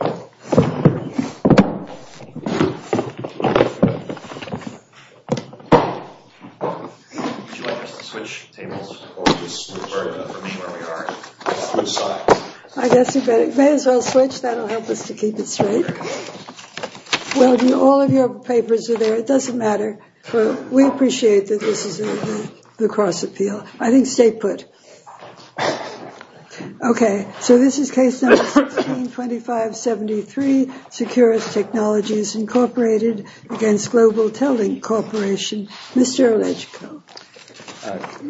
I guess we may as well switch. That'll help us to keep it straight. Well, all of your papers are there. It doesn't matter. We appreciate that this is the cross-appeal. I think stay put. Okay, so this is case number 162573, Securus Technologies, Inc., against Global TelLink Corporation. Mr. Legico.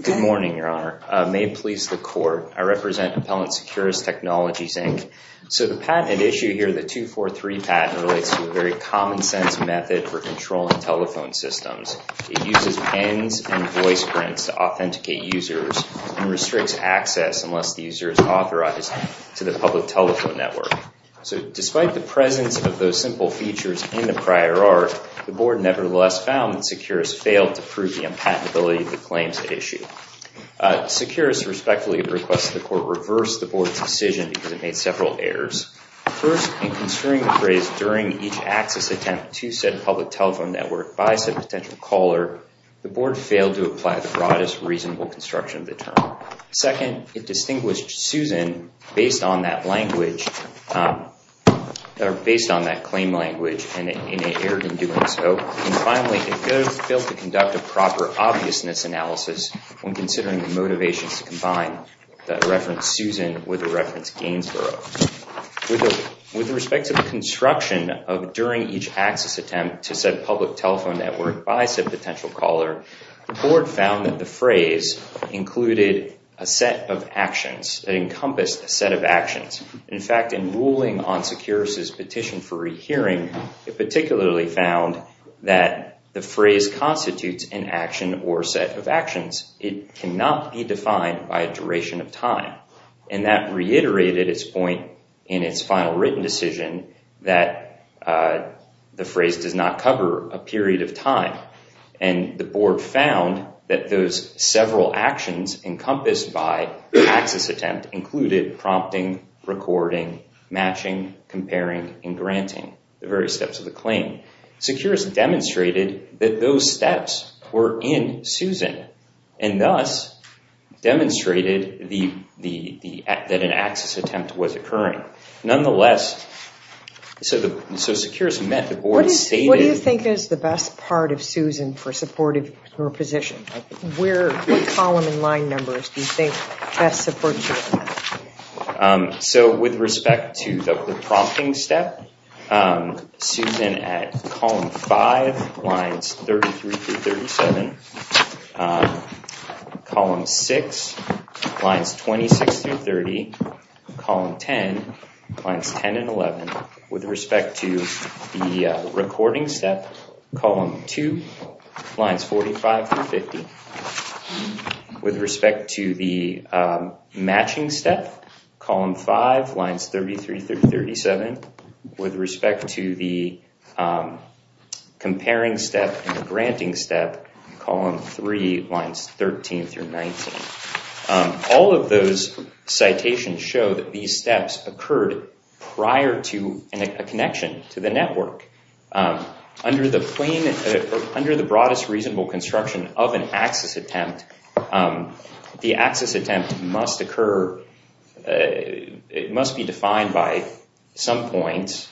Good morning, Your Honor. May it please the Court, I represent Appellant Securus Technologies, Inc. So the patent at issue here, the 243 patent, relates to a very common-sense method for controlling telephone systems. It uses pens and voice prints to authenticate users and restricts access unless the user is authorized to the public telephone network. So despite the presence of those simple features in the prior art, the Board nevertheless found that Securus failed to prove the unpatentability of the claims at issue. Securus respectfully requests the Court reverse the Board's decision because it made several errors. First, in construing the phrase during each access attempt to said public telephone network by said potential caller, the Board failed to apply the broadest reasonable construction of the term. Second, it distinguished Susan based on that claim language and it erred in doing so. And finally, it failed to conduct a proper obviousness analysis when considering the motivations to combine the reference Susan with the reference Gainsborough. With respect to the construction of during each access attempt to said public telephone network by said potential caller, the Board found that the phrase included a set of actions, an encompassed set of actions. In fact, in ruling on Securus's petition for rehearing, it particularly found that the phrase constitutes an action or set of actions. It cannot be defined by a duration of time. And that reiterated its point in its final written decision that the phrase does not cover a period of time. And the Board found that those several actions encompassed by the access attempt included prompting, recording, matching, comparing, and granting the various steps of the claim. Securus demonstrated that those steps were in Susan and thus demonstrated that an access attempt was occurring. Nonetheless, so Securus met the Board's stated- What do you think is the best part of Susan for supporting her position? What column and line numbers do you think best support Susan? So with respect to the prompting step, Susan at column 5, lines 33 through 37, column 6, lines 26 through 30, column 10, lines 10 and 11. With respect to the recording step, column 2, lines 45 through 50. With respect to the matching step, column 5, lines 33 through 37. With respect to the comparing step and the granting step, column 3, lines 13 through 19. All of those citations show that these steps occurred prior to a connection to the network. Under the broadest reasonable construction of an access attempt, the access attempt must occur- It must be defined by some points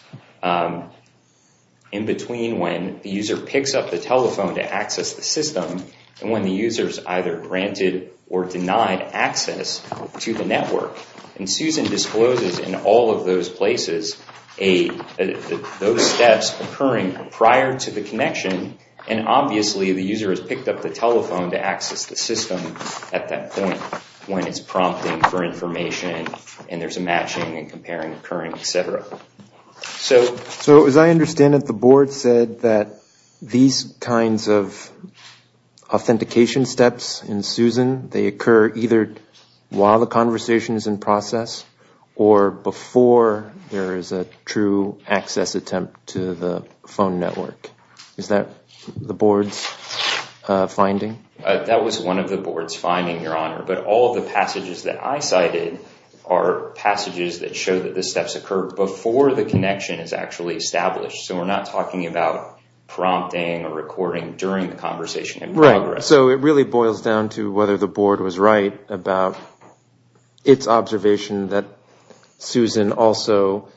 in between when the user picks up the telephone to access the system and when the user is either granted or denied access to the network. And Susan discloses in all of those places those steps occurring prior to the connection. And obviously the user has picked up the telephone to access the system at that point when it's prompting for information and there's a matching and comparing occurring, etc. So as I understand it, the board said that these kinds of authentication steps in Susan, they occur either while the conversation is in process or before there is a true access attempt to the phone network. Is that the board's finding? That was one of the board's findings, Your Honor. But all of the passages that I cited are passages that show that the steps occurred before the connection is actually established. So we're not talking about prompting or recording during the conversation in progress. So it really boils down to whether the board was right about its observation that Susan also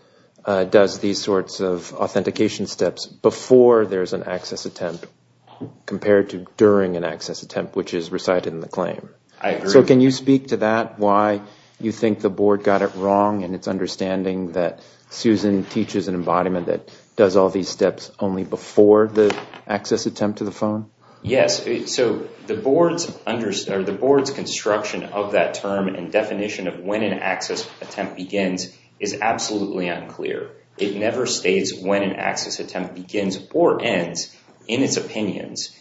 does these sorts of authentication steps before there's an access attempt compared to during an access attempt, which is recited in the claim. I agree. So can you speak to that, why you think the board got it wrong in its understanding that Susan teaches an embodiment that does all these steps only before the access attempt to the phone? Yes. So the board's construction of that term and definition of when an access attempt begins is absolutely unclear. It never states when an access attempt begins or ends in its opinions,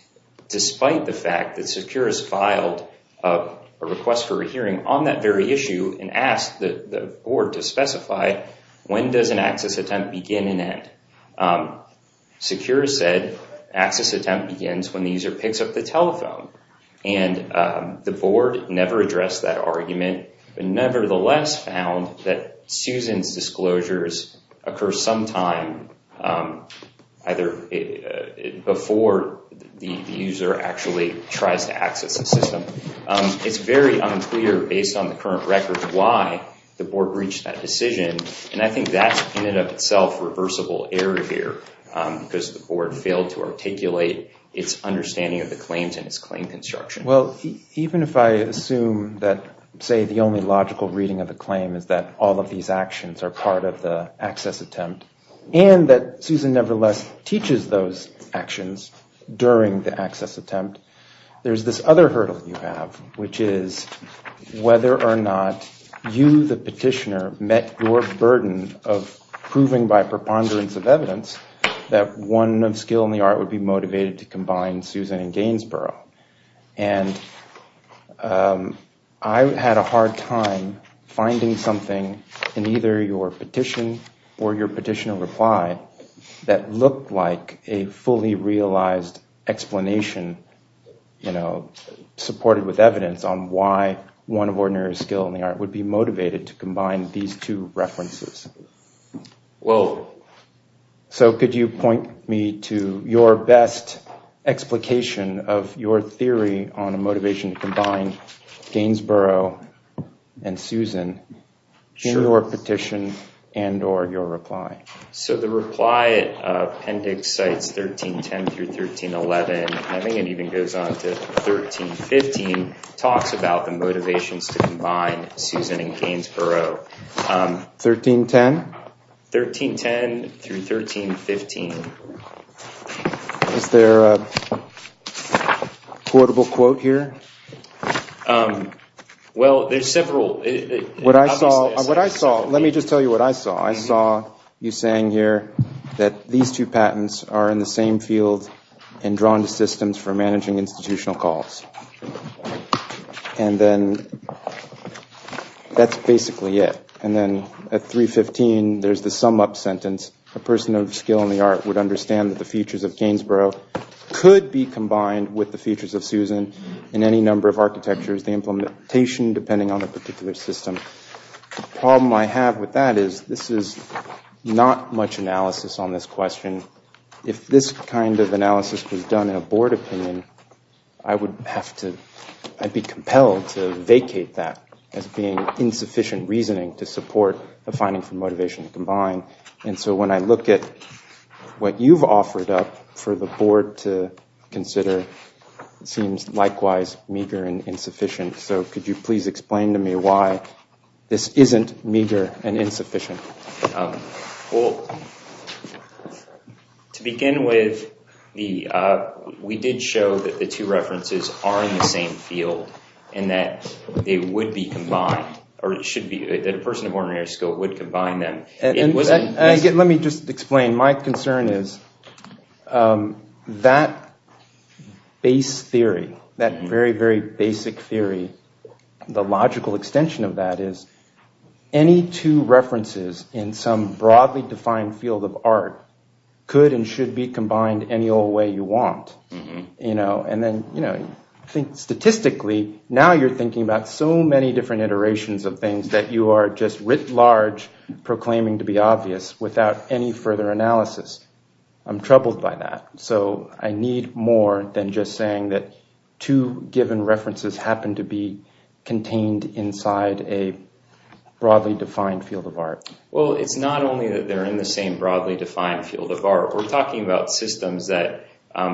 despite the fact that Securus filed a request for a hearing on that very issue and asked the board to specify when does an access attempt begin and end. Securus said access attempt begins when the user picks up the telephone. And the board never addressed that argument, but nevertheless found that Susan's disclosures occur sometime either before the user actually tries to access the system. It's very unclear, based on the current record, why the board reached that decision. And I think that's, in and of itself, reversible error here, because the board failed to articulate its understanding of the claims and its claim construction. Well, even if I assume that, say, the only logical reading of the claim is that all of these actions are part of the access attempt, and that Susan nevertheless teaches those actions during the access attempt, there's this other hurdle you have, which is whether or not you, the petitioner, met your burden of proving by preponderance of evidence that one of skill in the art would be motivated to combine Susan and Gainsborough. And I had a hard time finding something in either your petition or your petitioner reply that looked like a fully realized explanation, you know, supported with evidence on why one of ordinary skill in the art would be motivated to combine these two references. So could you point me to your best explication of your theory on a motivation to combine Gainsborough and Susan in your petition and or your reply? So the reply appendix sites 1310 through 1311, I think it even goes on to 1315, talks about the motivations to combine Susan and Gainsborough. 1310? 1310 through 1315. Is there a quotable quote here? Well, there's several. What I saw, let me just tell you what I saw. I saw you saying here that these two patents are in the same field and drawn to systems for managing institutional calls. And then that's basically it. And then at 315, there's the sum up sentence. A person of skill in the art would understand that the features of Gainsborough could be combined with the features of Susan in any number of architectures, the implementation depending on the particular system. The problem I have with that is this is not much analysis on this question. If this kind of analysis was done in a board opinion, I'd be compelled to vacate that as being insufficient reasoning to support the finding for motivation to combine. And so when I look at what you've offered up for the board to consider, it seems likewise meager and insufficient. So could you please explain to me why this isn't meager and insufficient? Well, to begin with, we did show that the two references are in the same field and that they would be combined or it should be that a person of ordinary skill would combine them. Let me just explain. My concern is that base theory, that very, very basic theory, the logical extension of that is any two references in some broadly defined field of art could and should be combined any old way you want. Statistically, now you're thinking about so many different iterations of things that you are just writ large proclaiming to be obvious without any further analysis. I'm troubled by that. So I need more than just saying that two given references happen to be contained inside a broadly defined field of art. Well, it's not only that they're in the same broadly defined field of art. We're talking about systems that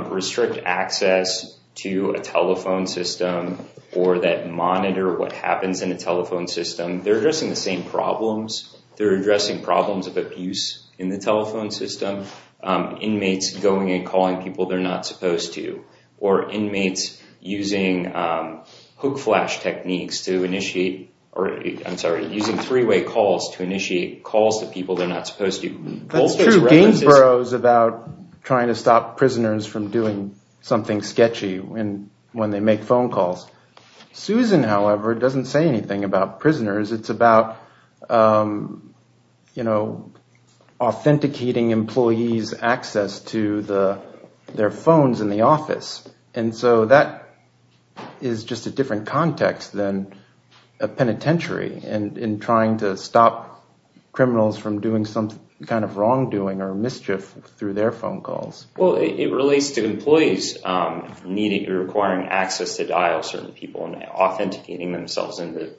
restrict access to a telephone system or that monitor what happens in a telephone system. They're addressing the same problems. They're addressing problems of abuse in the telephone system. Inmates going and calling people they're not supposed to or inmates using hook flash techniques to initiate, I'm sorry, using three-way calls to initiate calls to people they're not supposed to. That's true. Gainsborough is about trying to stop prisoners from doing something sketchy when they make phone calls. Susan, however, doesn't say anything about prisoners. It's about authenticating employees' access to their phones in the office. And so that is just a different context than a penitentiary in trying to stop criminals from doing some kind of wrongdoing or mischief through their phone calls. Well, it relates to employees requiring access to dial certain people and authenticating themselves into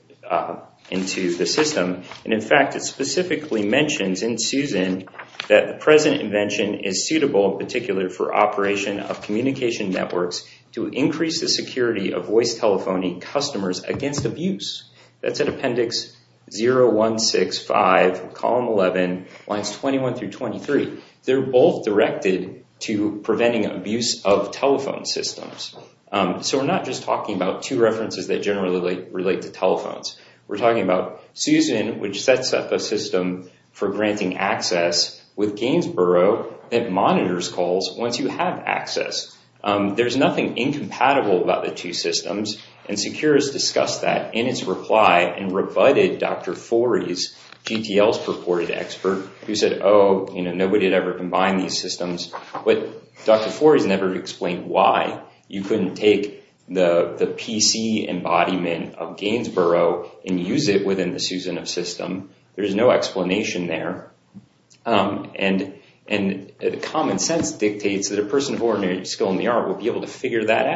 the system. And, in fact, it specifically mentions in Susan that the present invention is suitable in particular for operation of communication networks to increase the security of voice telephony customers against abuse. That's in Appendix 0165, Column 11, Lines 21 through 23. They're both directed to preventing abuse of telephone systems. So we're not just talking about two references that generally relate to telephones. We're talking about Susan, which sets up a system for granting access with Gainsborough that monitors calls once you have access. There's nothing incompatible about the two systems. And Secures discussed that in its reply and rebutted Dr. Forey's, GTL's purported expert, who said, oh, you know, nobody had ever combined these systems. But Dr. Forey's never explained why you couldn't take the PC embodiment of Gainsborough and use it within the Susan of system. There is no explanation there. And common sense dictates that a person of ordinary skill in the art will be able to figure that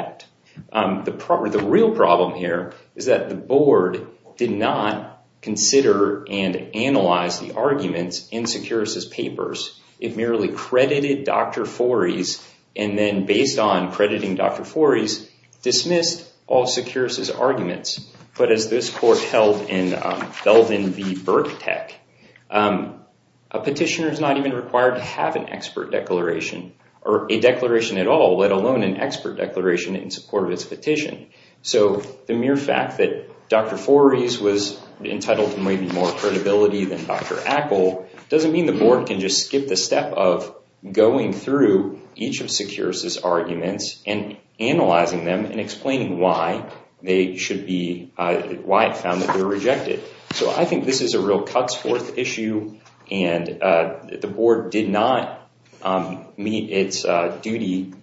out. The real problem here is that the board did not consider and analyze the arguments in Secures' papers. It merely credited Dr. Forey's and then, based on crediting Dr. Forey's, dismissed all Secures' arguments. But as this court held in Belden v. Birketech, a petitioner is not even required to have an expert declaration or a declaration at all, let alone an expert declaration in support of its petition. So the mere fact that Dr. Forey's was entitled to maybe more credibility than Dr. I think the board can just skip the step of going through each of Secures' arguments and analyzing them and explaining why they should be, why it found that they were rejected. So I think this is a real cuts-forth issue. And the board did not meet its duty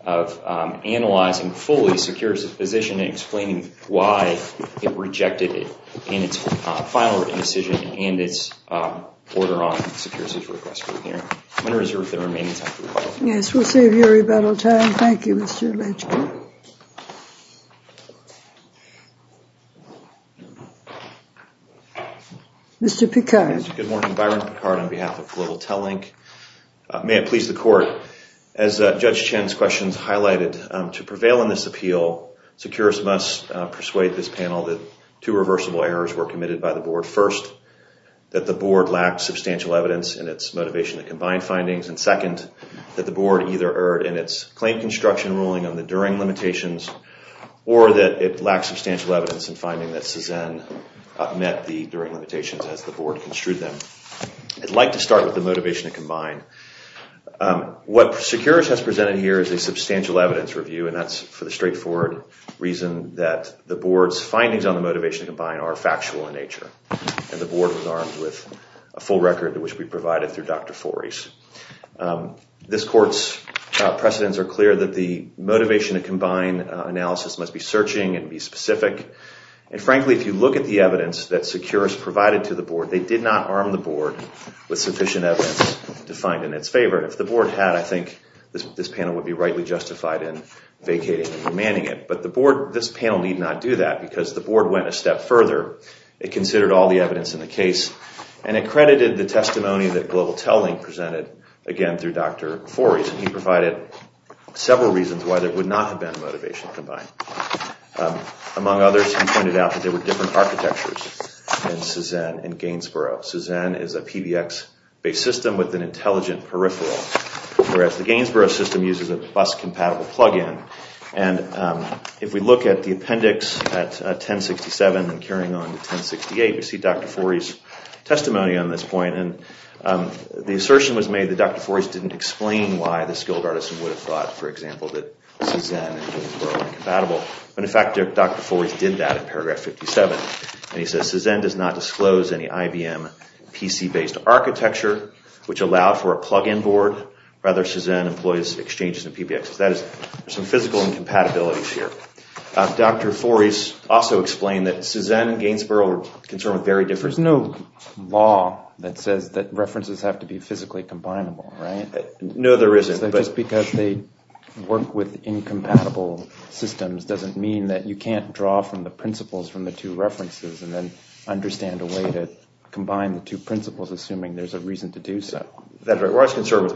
of analyzing fully Secures' position and explaining why it rejected it in its final written decision and its order on Secures' request for a hearing. I'm going to reserve the remaining time for rebuttal. Yes, we'll save your rebuttal time. Thank you, Mr. Legge. Thank you. Mr. Picard. Good morning. Byron Picard on behalf of Global Telink. May it please the court, as Judge Chen's questions highlighted, to prevail in this appeal, Secures must persuade this panel that two reversible errors were committed by the board. First, that the board lacked substantial evidence in its motivation to combine findings. And second, that the board either erred in its claim construction ruling on the During limitations or that it lacked substantial evidence in finding that Cezanne met the During limitations as the board construed them. I'd like to start with the motivation to combine. What Secures has presented here is a substantial evidence review, and that's for the straightforward reason that the board's findings on the motivation to combine are factual in nature. And the board was armed with a full record, which we provided through Dr. Forese. This court's precedents are clear that the motivation to combine analysis must be searching and be specific. And frankly, if you look at the evidence that Secures provided to the board, they did not arm the board with sufficient evidence to find in its favor. If the board had, I think this panel would be rightly justified in vacating and remanding it. But this panel need not do that because the board went a step further. It considered all the evidence in the case and accredited the testimony that Global Telling presented, again, through Dr. Forese. And he provided several reasons why there would not have been a motivation to combine. Among others, he pointed out that there were different architectures in Cezanne and Gainesboro. Cezanne is a PBX-based system with an intelligent peripheral, whereas the Gainesboro system uses a bus-compatible plug-in. And if we look at the appendix at 1067 and carrying on to 1068, we see Dr. Forese's testimony on this point. And the assertion was made that Dr. Forese didn't explain why the skilled artisan would have thought, for example, that Cezanne and Gainesboro were incompatible. But in fact, Dr. Forese did that in paragraph 57. And he says, Cezanne does not disclose any IBM PC-based architecture, which allowed for a plug-in board. Rather, Cezanne employs exchanges and PBXs. That is, there's some physical incompatibilities here. Dr. Forese also explained that Cezanne and Gainesboro are concerned with very different – There's no law that says that references have to be physically combinable, right? No, there isn't. So just because they work with incompatible systems doesn't mean that you can't draw from the principles from the two references and then understand a way to combine the two principles, assuming there's a reason to do so. Dr. Forese's concern was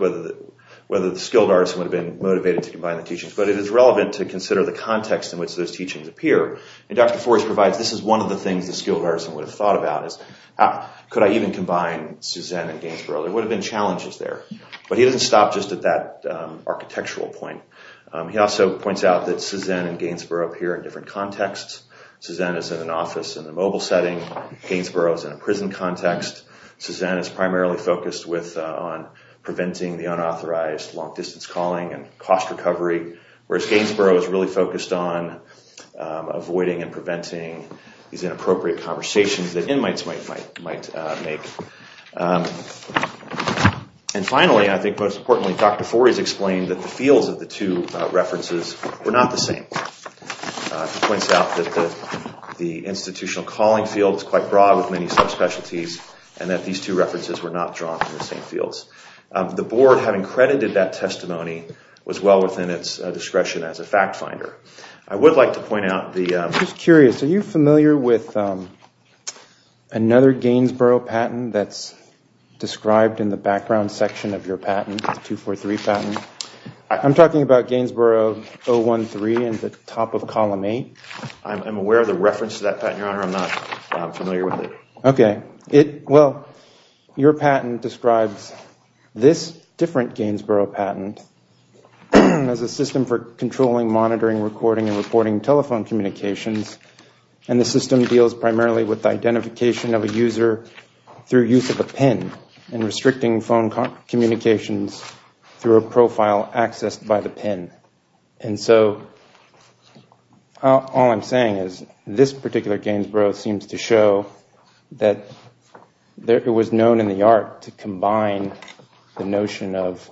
whether the skilled artisan would have been motivated to combine the teachings. But it is relevant to consider the context in which those teachings appear. And Dr. Forese provides this is one of the things the skilled artisan would have thought about is, could I even combine Cezanne and Gainesboro? There would have been challenges there. But he doesn't stop just at that architectural point. He also points out that Cezanne and Gainesboro appear in different contexts. Cezanne is in an office in the mobile setting. Gainesboro is in a prison context. Cezanne is primarily focused on preventing the unauthorized long-distance calling and cost recovery, whereas Gainesboro is really focused on avoiding and preventing these inappropriate conversations that inmates might make. And finally, I think most importantly, Dr. Forese explained that the fields of the two references were not the same. He points out that the institutional calling field is quite broad with many subspecialties and that these two references were not drawn from the same fields. The board, having credited that testimony, was well within its discretion as a fact finder. I would like to point out the- I'm just curious. Are you familiar with another Gainesboro patent that's described in the background section of your patent, the 243 patent? I'm talking about Gainesboro 013 in the top of column 8. I'm aware of the reference to that patent, Your Honor. I'm not familiar with it. Okay. Well, your patent describes this different Gainesboro patent as a system for controlling, monitoring, recording, and reporting telephone communications. And the system deals primarily with identification of a user through use of a PIN and restricting phone communications through a profile accessed by the PIN. And so all I'm saying is this particular Gainesboro seems to show that it was known in the art to combine the notion of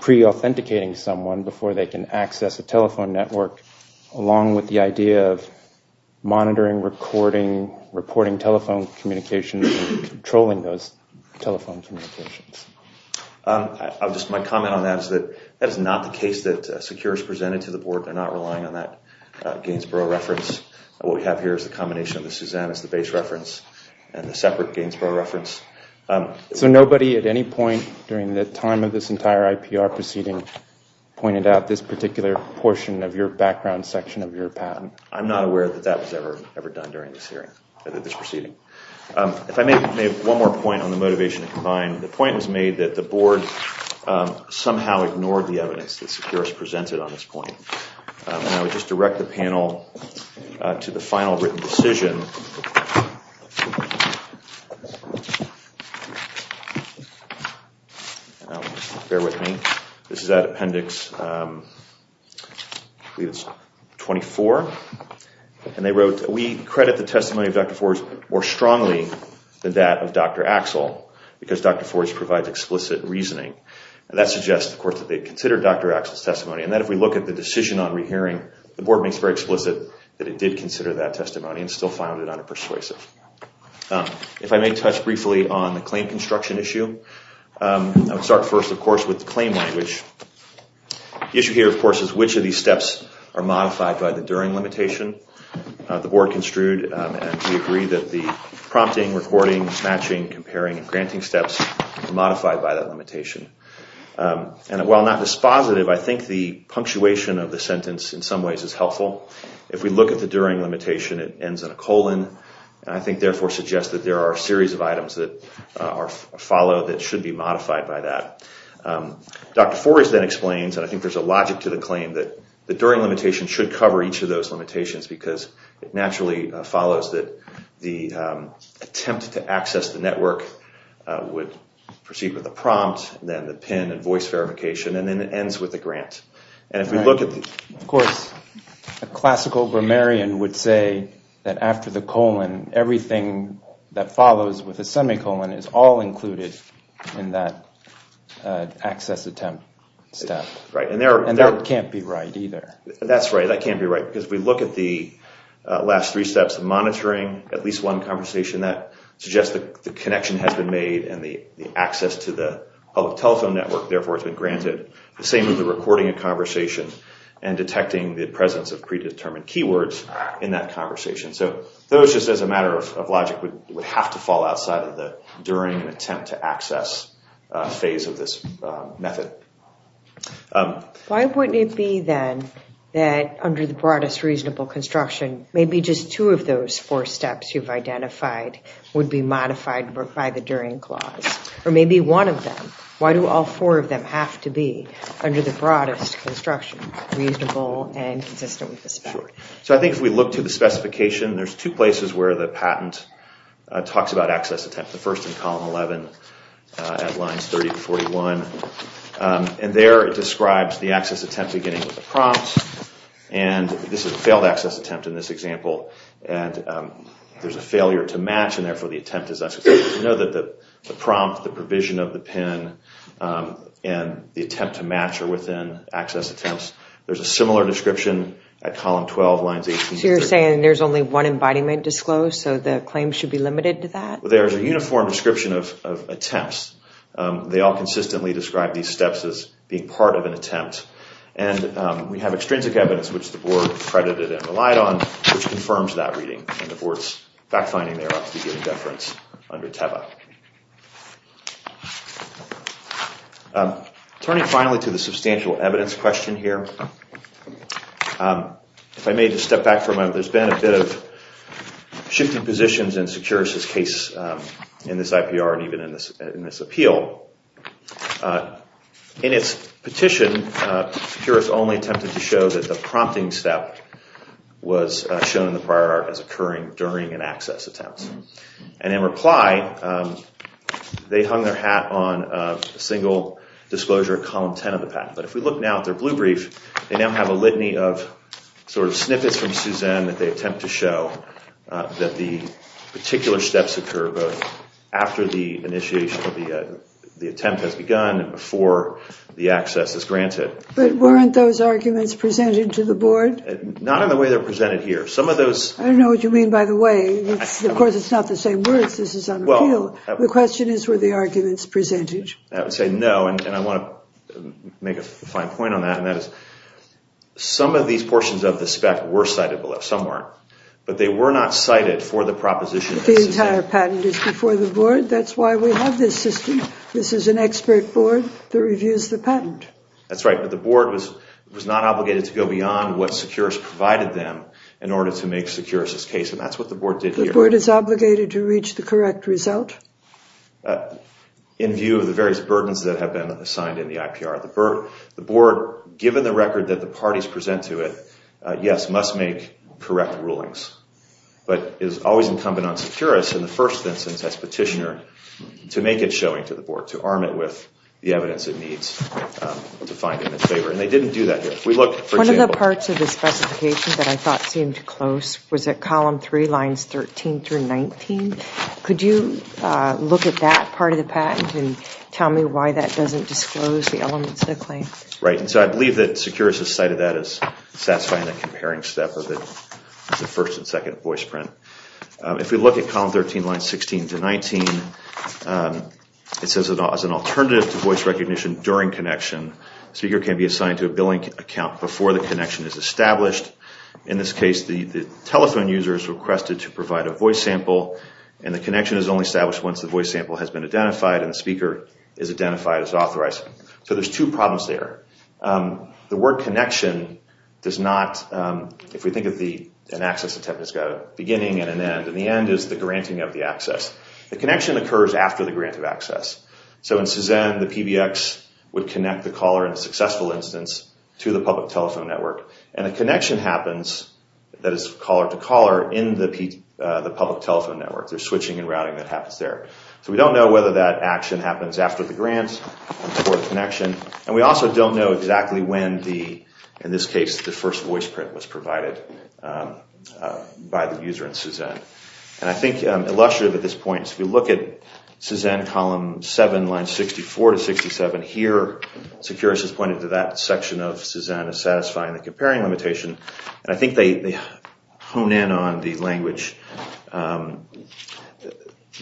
pre-authenticating someone before they can access a telephone network along with the idea of monitoring, recording, reporting telephone communications, and controlling those telephone communications. Just my comment on that is that that is not the case that SECURE has presented to the board. They're not relying on that Gainesboro reference. What we have here is the combination of the Suzanne as the base reference and the separate Gainesboro reference. So nobody at any point during the time of this entire IPR proceeding pointed out this particular portion of your background section of your patent? I'm not aware that that was ever done during this hearing, this proceeding. If I may have one more point on the motivation to combine. The point was made that the board somehow ignored the evidence that SECURE has presented on this point. And I would just direct the panel to the final written decision. Bear with me. This is that appendix 24. And they wrote, we credit the testimony of Dr. Forge more strongly than that of Dr. Axel because Dr. Forge provides explicit reasoning. And that suggests, of course, that they considered Dr. Axel's testimony. And then if we look at the decision on rehearing, the board makes very explicit that it did consider that testimony and still found it unpersuasive. If I may touch briefly on the claim construction issue, I would start first, of course, with the claim language. The issue here, of course, is which of these steps are modified by the during limitation. The board construed, and we agree, that the prompting, recording, matching, comparing, and granting steps are modified by that limitation. And while not dispositive, I think the punctuation of the sentence in some ways is helpful. If we look at the during limitation, it ends in a colon. And I think, therefore, suggests that there are a series of items that are followed that should be modified by that. Dr. Forge then explains, and I think there's a logic to the claim, that the during limitation should cover each of those limitations because it naturally follows that the attempt to access the network would proceed with a prompt, then the PIN and voice verification, and then it ends with a grant. Of course, a classical grammarian would say that after the colon, everything that follows with a semicolon is all included in that access attempt step. And that can't be right either. That's right. That can't be right. Because if we look at the last three steps of monitoring, at least one conversation, that suggests that the connection has been made and the access to the public telephone network, therefore, has been granted. The same with the recording of conversation and detecting the presence of predetermined keywords in that conversation. So those, just as a matter of logic, would have to fall outside of the during attempt to access phase of this method. Why wouldn't it be, then, that under the broadest reasonable construction, maybe just two of those four steps you've identified would be modified by the during clause? Or maybe one of them. Why do all four of them have to be, under the broadest construction, reasonable and consistent with the spec? So I think if we look to the specification, there's two places where the patent talks about access attempt. The first in column 11 at lines 30 and 41. And there it describes the access attempt beginning with a prompt. And this is a failed access attempt in this example. And there's a failure to match, and therefore the attempt is unsuccessful. We know that the prompt, the provision of the PIN, and the attempt to match are within access attempts. There's a similar description at column 12, lines 18- So you're saying there's only one embodiment disclosed, so the claim should be limited to that? There's a uniform description of attempts. They all consistently describe these steps as being part of an attempt. And we have extrinsic evidence, which the board credited and relied on, which confirms that reading. And the board's fact-finding there ought to be given deference under TEBA. Turning finally to the substantial evidence question here. If I may just step back for a moment, there's been a bit of shifting positions in Securis' case in this IPR and even in this appeal. In its petition, Securis only attempted to show that the prompting step was shown in the prior art as occurring during an access attempt. And in reply, they hung their hat on a single disclosure at column 10 of the patent. But if we look now at their blue brief, they now have a litany of snippets from Suzanne that they attempt to show that the particular steps occur both after the attempt has begun and before the access is granted. But weren't those arguments presented to the board? Not in the way they're presented here. I don't know what you mean by the way. Of course, it's not the same words. This is an appeal. The question is, were the arguments presented? I would say no, and I want to make a fine point on that. Some of these portions of the spec were cited below. Some weren't. But they were not cited for the proposition. The entire patent is before the board. That's why we have this system. This is an expert board that reviews the patent. That's right, but the board was not obligated to go beyond what Securis provided them in order to make Securis' case. And that's what the board did here. The board is obligated to reach the correct result? In view of the various burdens that have been assigned in the IPR. The board, given the record that the parties present to it, yes, must make correct rulings. But it is always incumbent on Securis, in the first instance as petitioner, to make it showing to the board. To arm it with the evidence it needs to find them in favor. And they didn't do that here. One of the parts of the specification that I thought seemed close was at column 3, lines 13 through 19. Could you look at that part of the patent and tell me why that doesn't disclose the elements of the claim? Right, and so I believe that Securis has cited that as satisfying the comparing step of the first and second voice print. If we look at column 13, lines 16 to 19, it says as an alternative to voice recognition during connection, the speaker can be assigned to a billing account before the connection is established. In this case, the telephone user is requested to provide a voice sample, and the connection is only established once the voice sample has been identified and the speaker is identified as authorized. So there's two problems there. The word connection does not, if we think of an access attempt as a beginning and an end, and the end is the granting of the access. The connection occurs after the grant of access. So in Cezanne, the PBX would connect the caller in a successful instance to the public telephone network. And a connection happens that is caller-to-caller in the public telephone network. There's switching and routing that happens there. So we don't know whether that action happens after the grant or before the connection, and we also don't know exactly when the, in this case, the first voice print was provided by the user in Cezanne. And I think illustrative at this point is if you look at Cezanne column 7, lines 64 to 67 here, Securus has pointed to that section of Cezanne as satisfying the comparing limitation, and I think they hone in on the language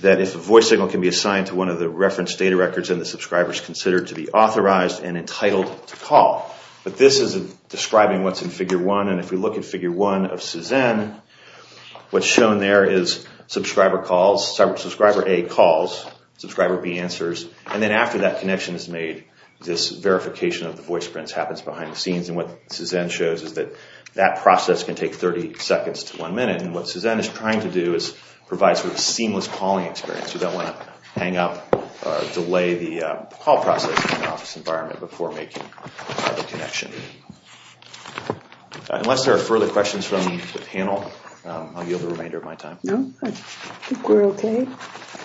that if a voice signal can be assigned to one of the reference data records, then the subscriber is considered to be authorized and entitled to call. But this is describing what's in Figure 1, and if we look at Figure 1 of Cezanne, what's shown there is subscriber calls, subscriber A calls, subscriber B answers, and then after that connection is made, this verification of the voice prints happens behind the scenes. And what Cezanne shows is that that process can take 30 seconds to one minute, and what Cezanne is trying to do is provide sort of a seamless calling experience. You don't want to hang up or delay the call process in an office environment before making the connection. Unless there are further questions from the panel, I'll yield the remainder of my time. No? I think we're okay.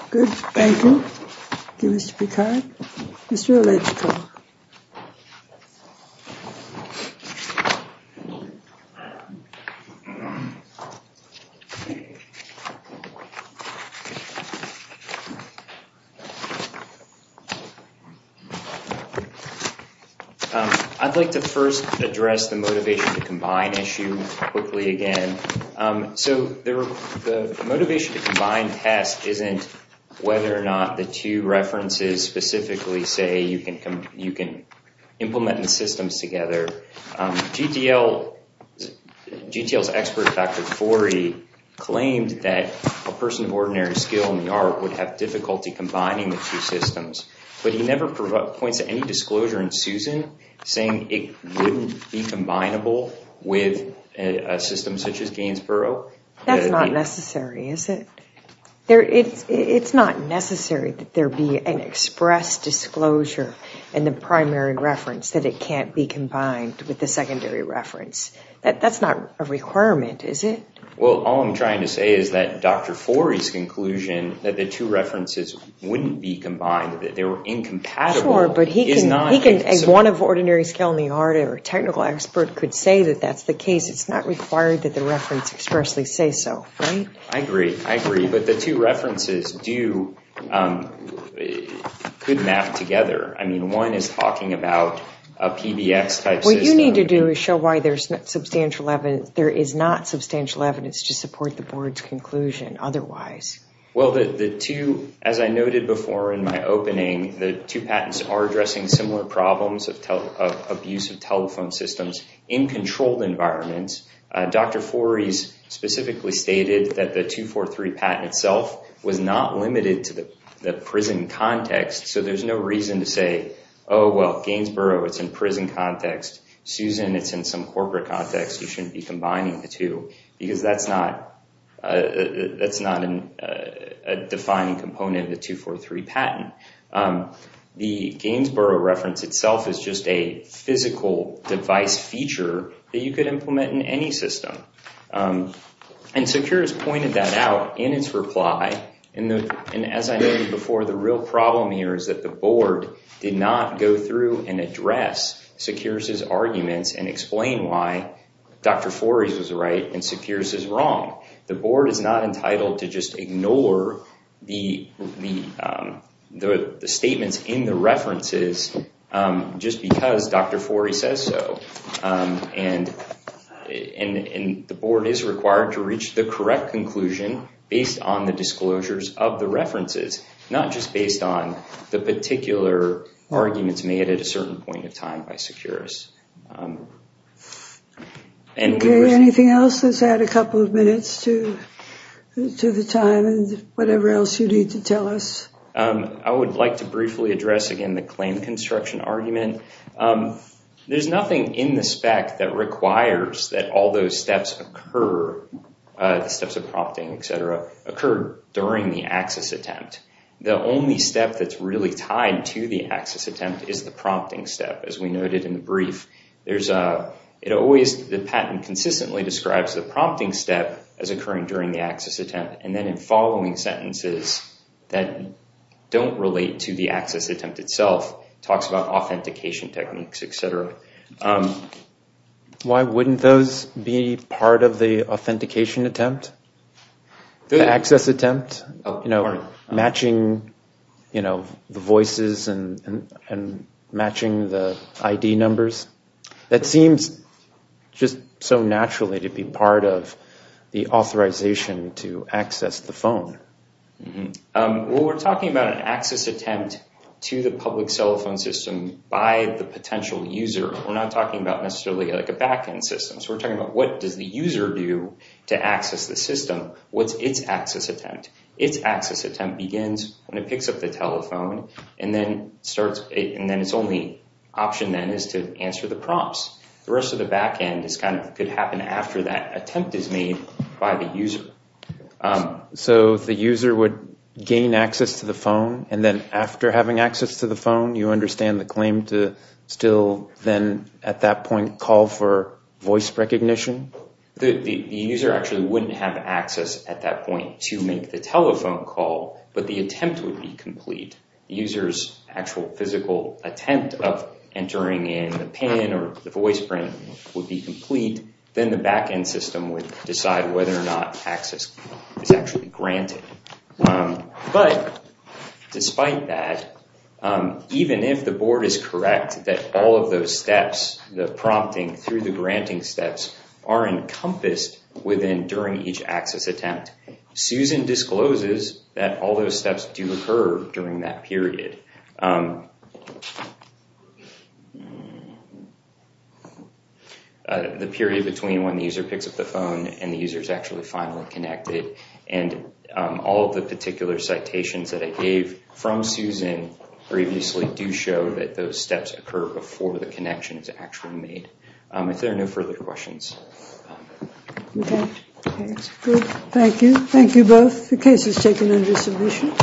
Good. Thank you. Thank you, Mr. Picard. Mr. Olegko. I'd like to first address the motivation to combine issue quickly again. So the motivation to combine tests isn't whether or not the two references specifically say you can implement the systems together. GTL's expert, Dr. Fori, claimed that a person of ordinary skill in the art would have difficulty combining the two systems, but he never points to any disclosure in Susan saying it wouldn't be combinable with a system such as Gainsborough. That's not necessary, is it? It's not necessary that there be an express disclosure in the primary reference that it can't be combined with the secondary reference. That's not a requirement, is it? Well, all I'm trying to say is that Dr. Fori's conclusion that the two references wouldn't be combined, that they were incompatible, is not... Sure, but he can, as one of ordinary skill in the art or technical expert, could say that that's the case. It's not required that the reference expressly say so, right? I agree. I agree. But the two references could map together. I mean, one is talking about a PBX-type system... There is not substantial evidence to support the board's conclusion otherwise. Well, the two, as I noted before in my opening, the two patents are addressing similar problems of abuse of telephone systems in controlled environments. Dr. Fori's specifically stated that the 243 patent itself was not limited to the prison context, so there's no reason to say, oh, well, Gainsborough, it's in prison context. Susan, it's in some corporate context. You shouldn't be combining the two, because that's not a defining component of the 243 patent. The Gainsborough reference itself is just a physical device feature that you could implement in any system. And SECURES pointed that out in its reply, and as I noted before, the real problem here is that the board did not go through and address SECURES's arguments and explain why Dr. Fori's was right and SECURES's wrong. The board is not entitled to just ignore the statements in the references just because Dr. Fori says so. And the board is required to reach the correct conclusion based on the disclosures of the references, not just based on the particular arguments made at a certain point in time by SECURES. Anything else? Let's add a couple of minutes to the time and whatever else you need to tell us. I would like to briefly address, again, the claim construction argument. There's nothing in the spec that requires that all those steps occur, the steps of prompting, et cetera, occur during the access attempt. The only step that's really tied to the access attempt is the prompting step, as we noted in the brief. The patent consistently describes the prompting step as occurring during the access attempt, and then in following sentences that don't relate to the access attempt itself, it talks about authentication techniques, et cetera. Why wouldn't those be part of the authentication attempt, the access attempt, matching the voices and matching the ID numbers? That seems just so naturally to be part of the authorization to access the phone. We're talking about an access attempt to the public cell phone system by the potential user. We're not talking about necessarily a backend system. We're talking about what does the user do to access the system? What's its access attempt? Its access attempt begins when it picks up the telephone, and then its only option then is to answer the prompts. The rest of the backend could happen after that attempt is made by the user. So the user would gain access to the phone, and then after having access to the phone, you understand the claim to still then at that point call for voice recognition? The user actually wouldn't have access at that point to make the telephone call, but the attempt would be complete. The user's actual physical attempt of entering in the PIN or the voice print would be complete. Then the backend system would decide whether or not access is actually granted. But despite that, even if the board is correct that all of those steps, the prompting through the granting steps, are encompassed within during each access attempt, Susan discloses that all those steps do occur during that period. The period between when the user picks up the phone and the user is actually finally connected. And all of the particular citations that I gave from Susan previously do show that those steps occur before the connection is actually made. If there are no further questions. Okay. Good. Thank you. Thank you both. The case is taken under submission.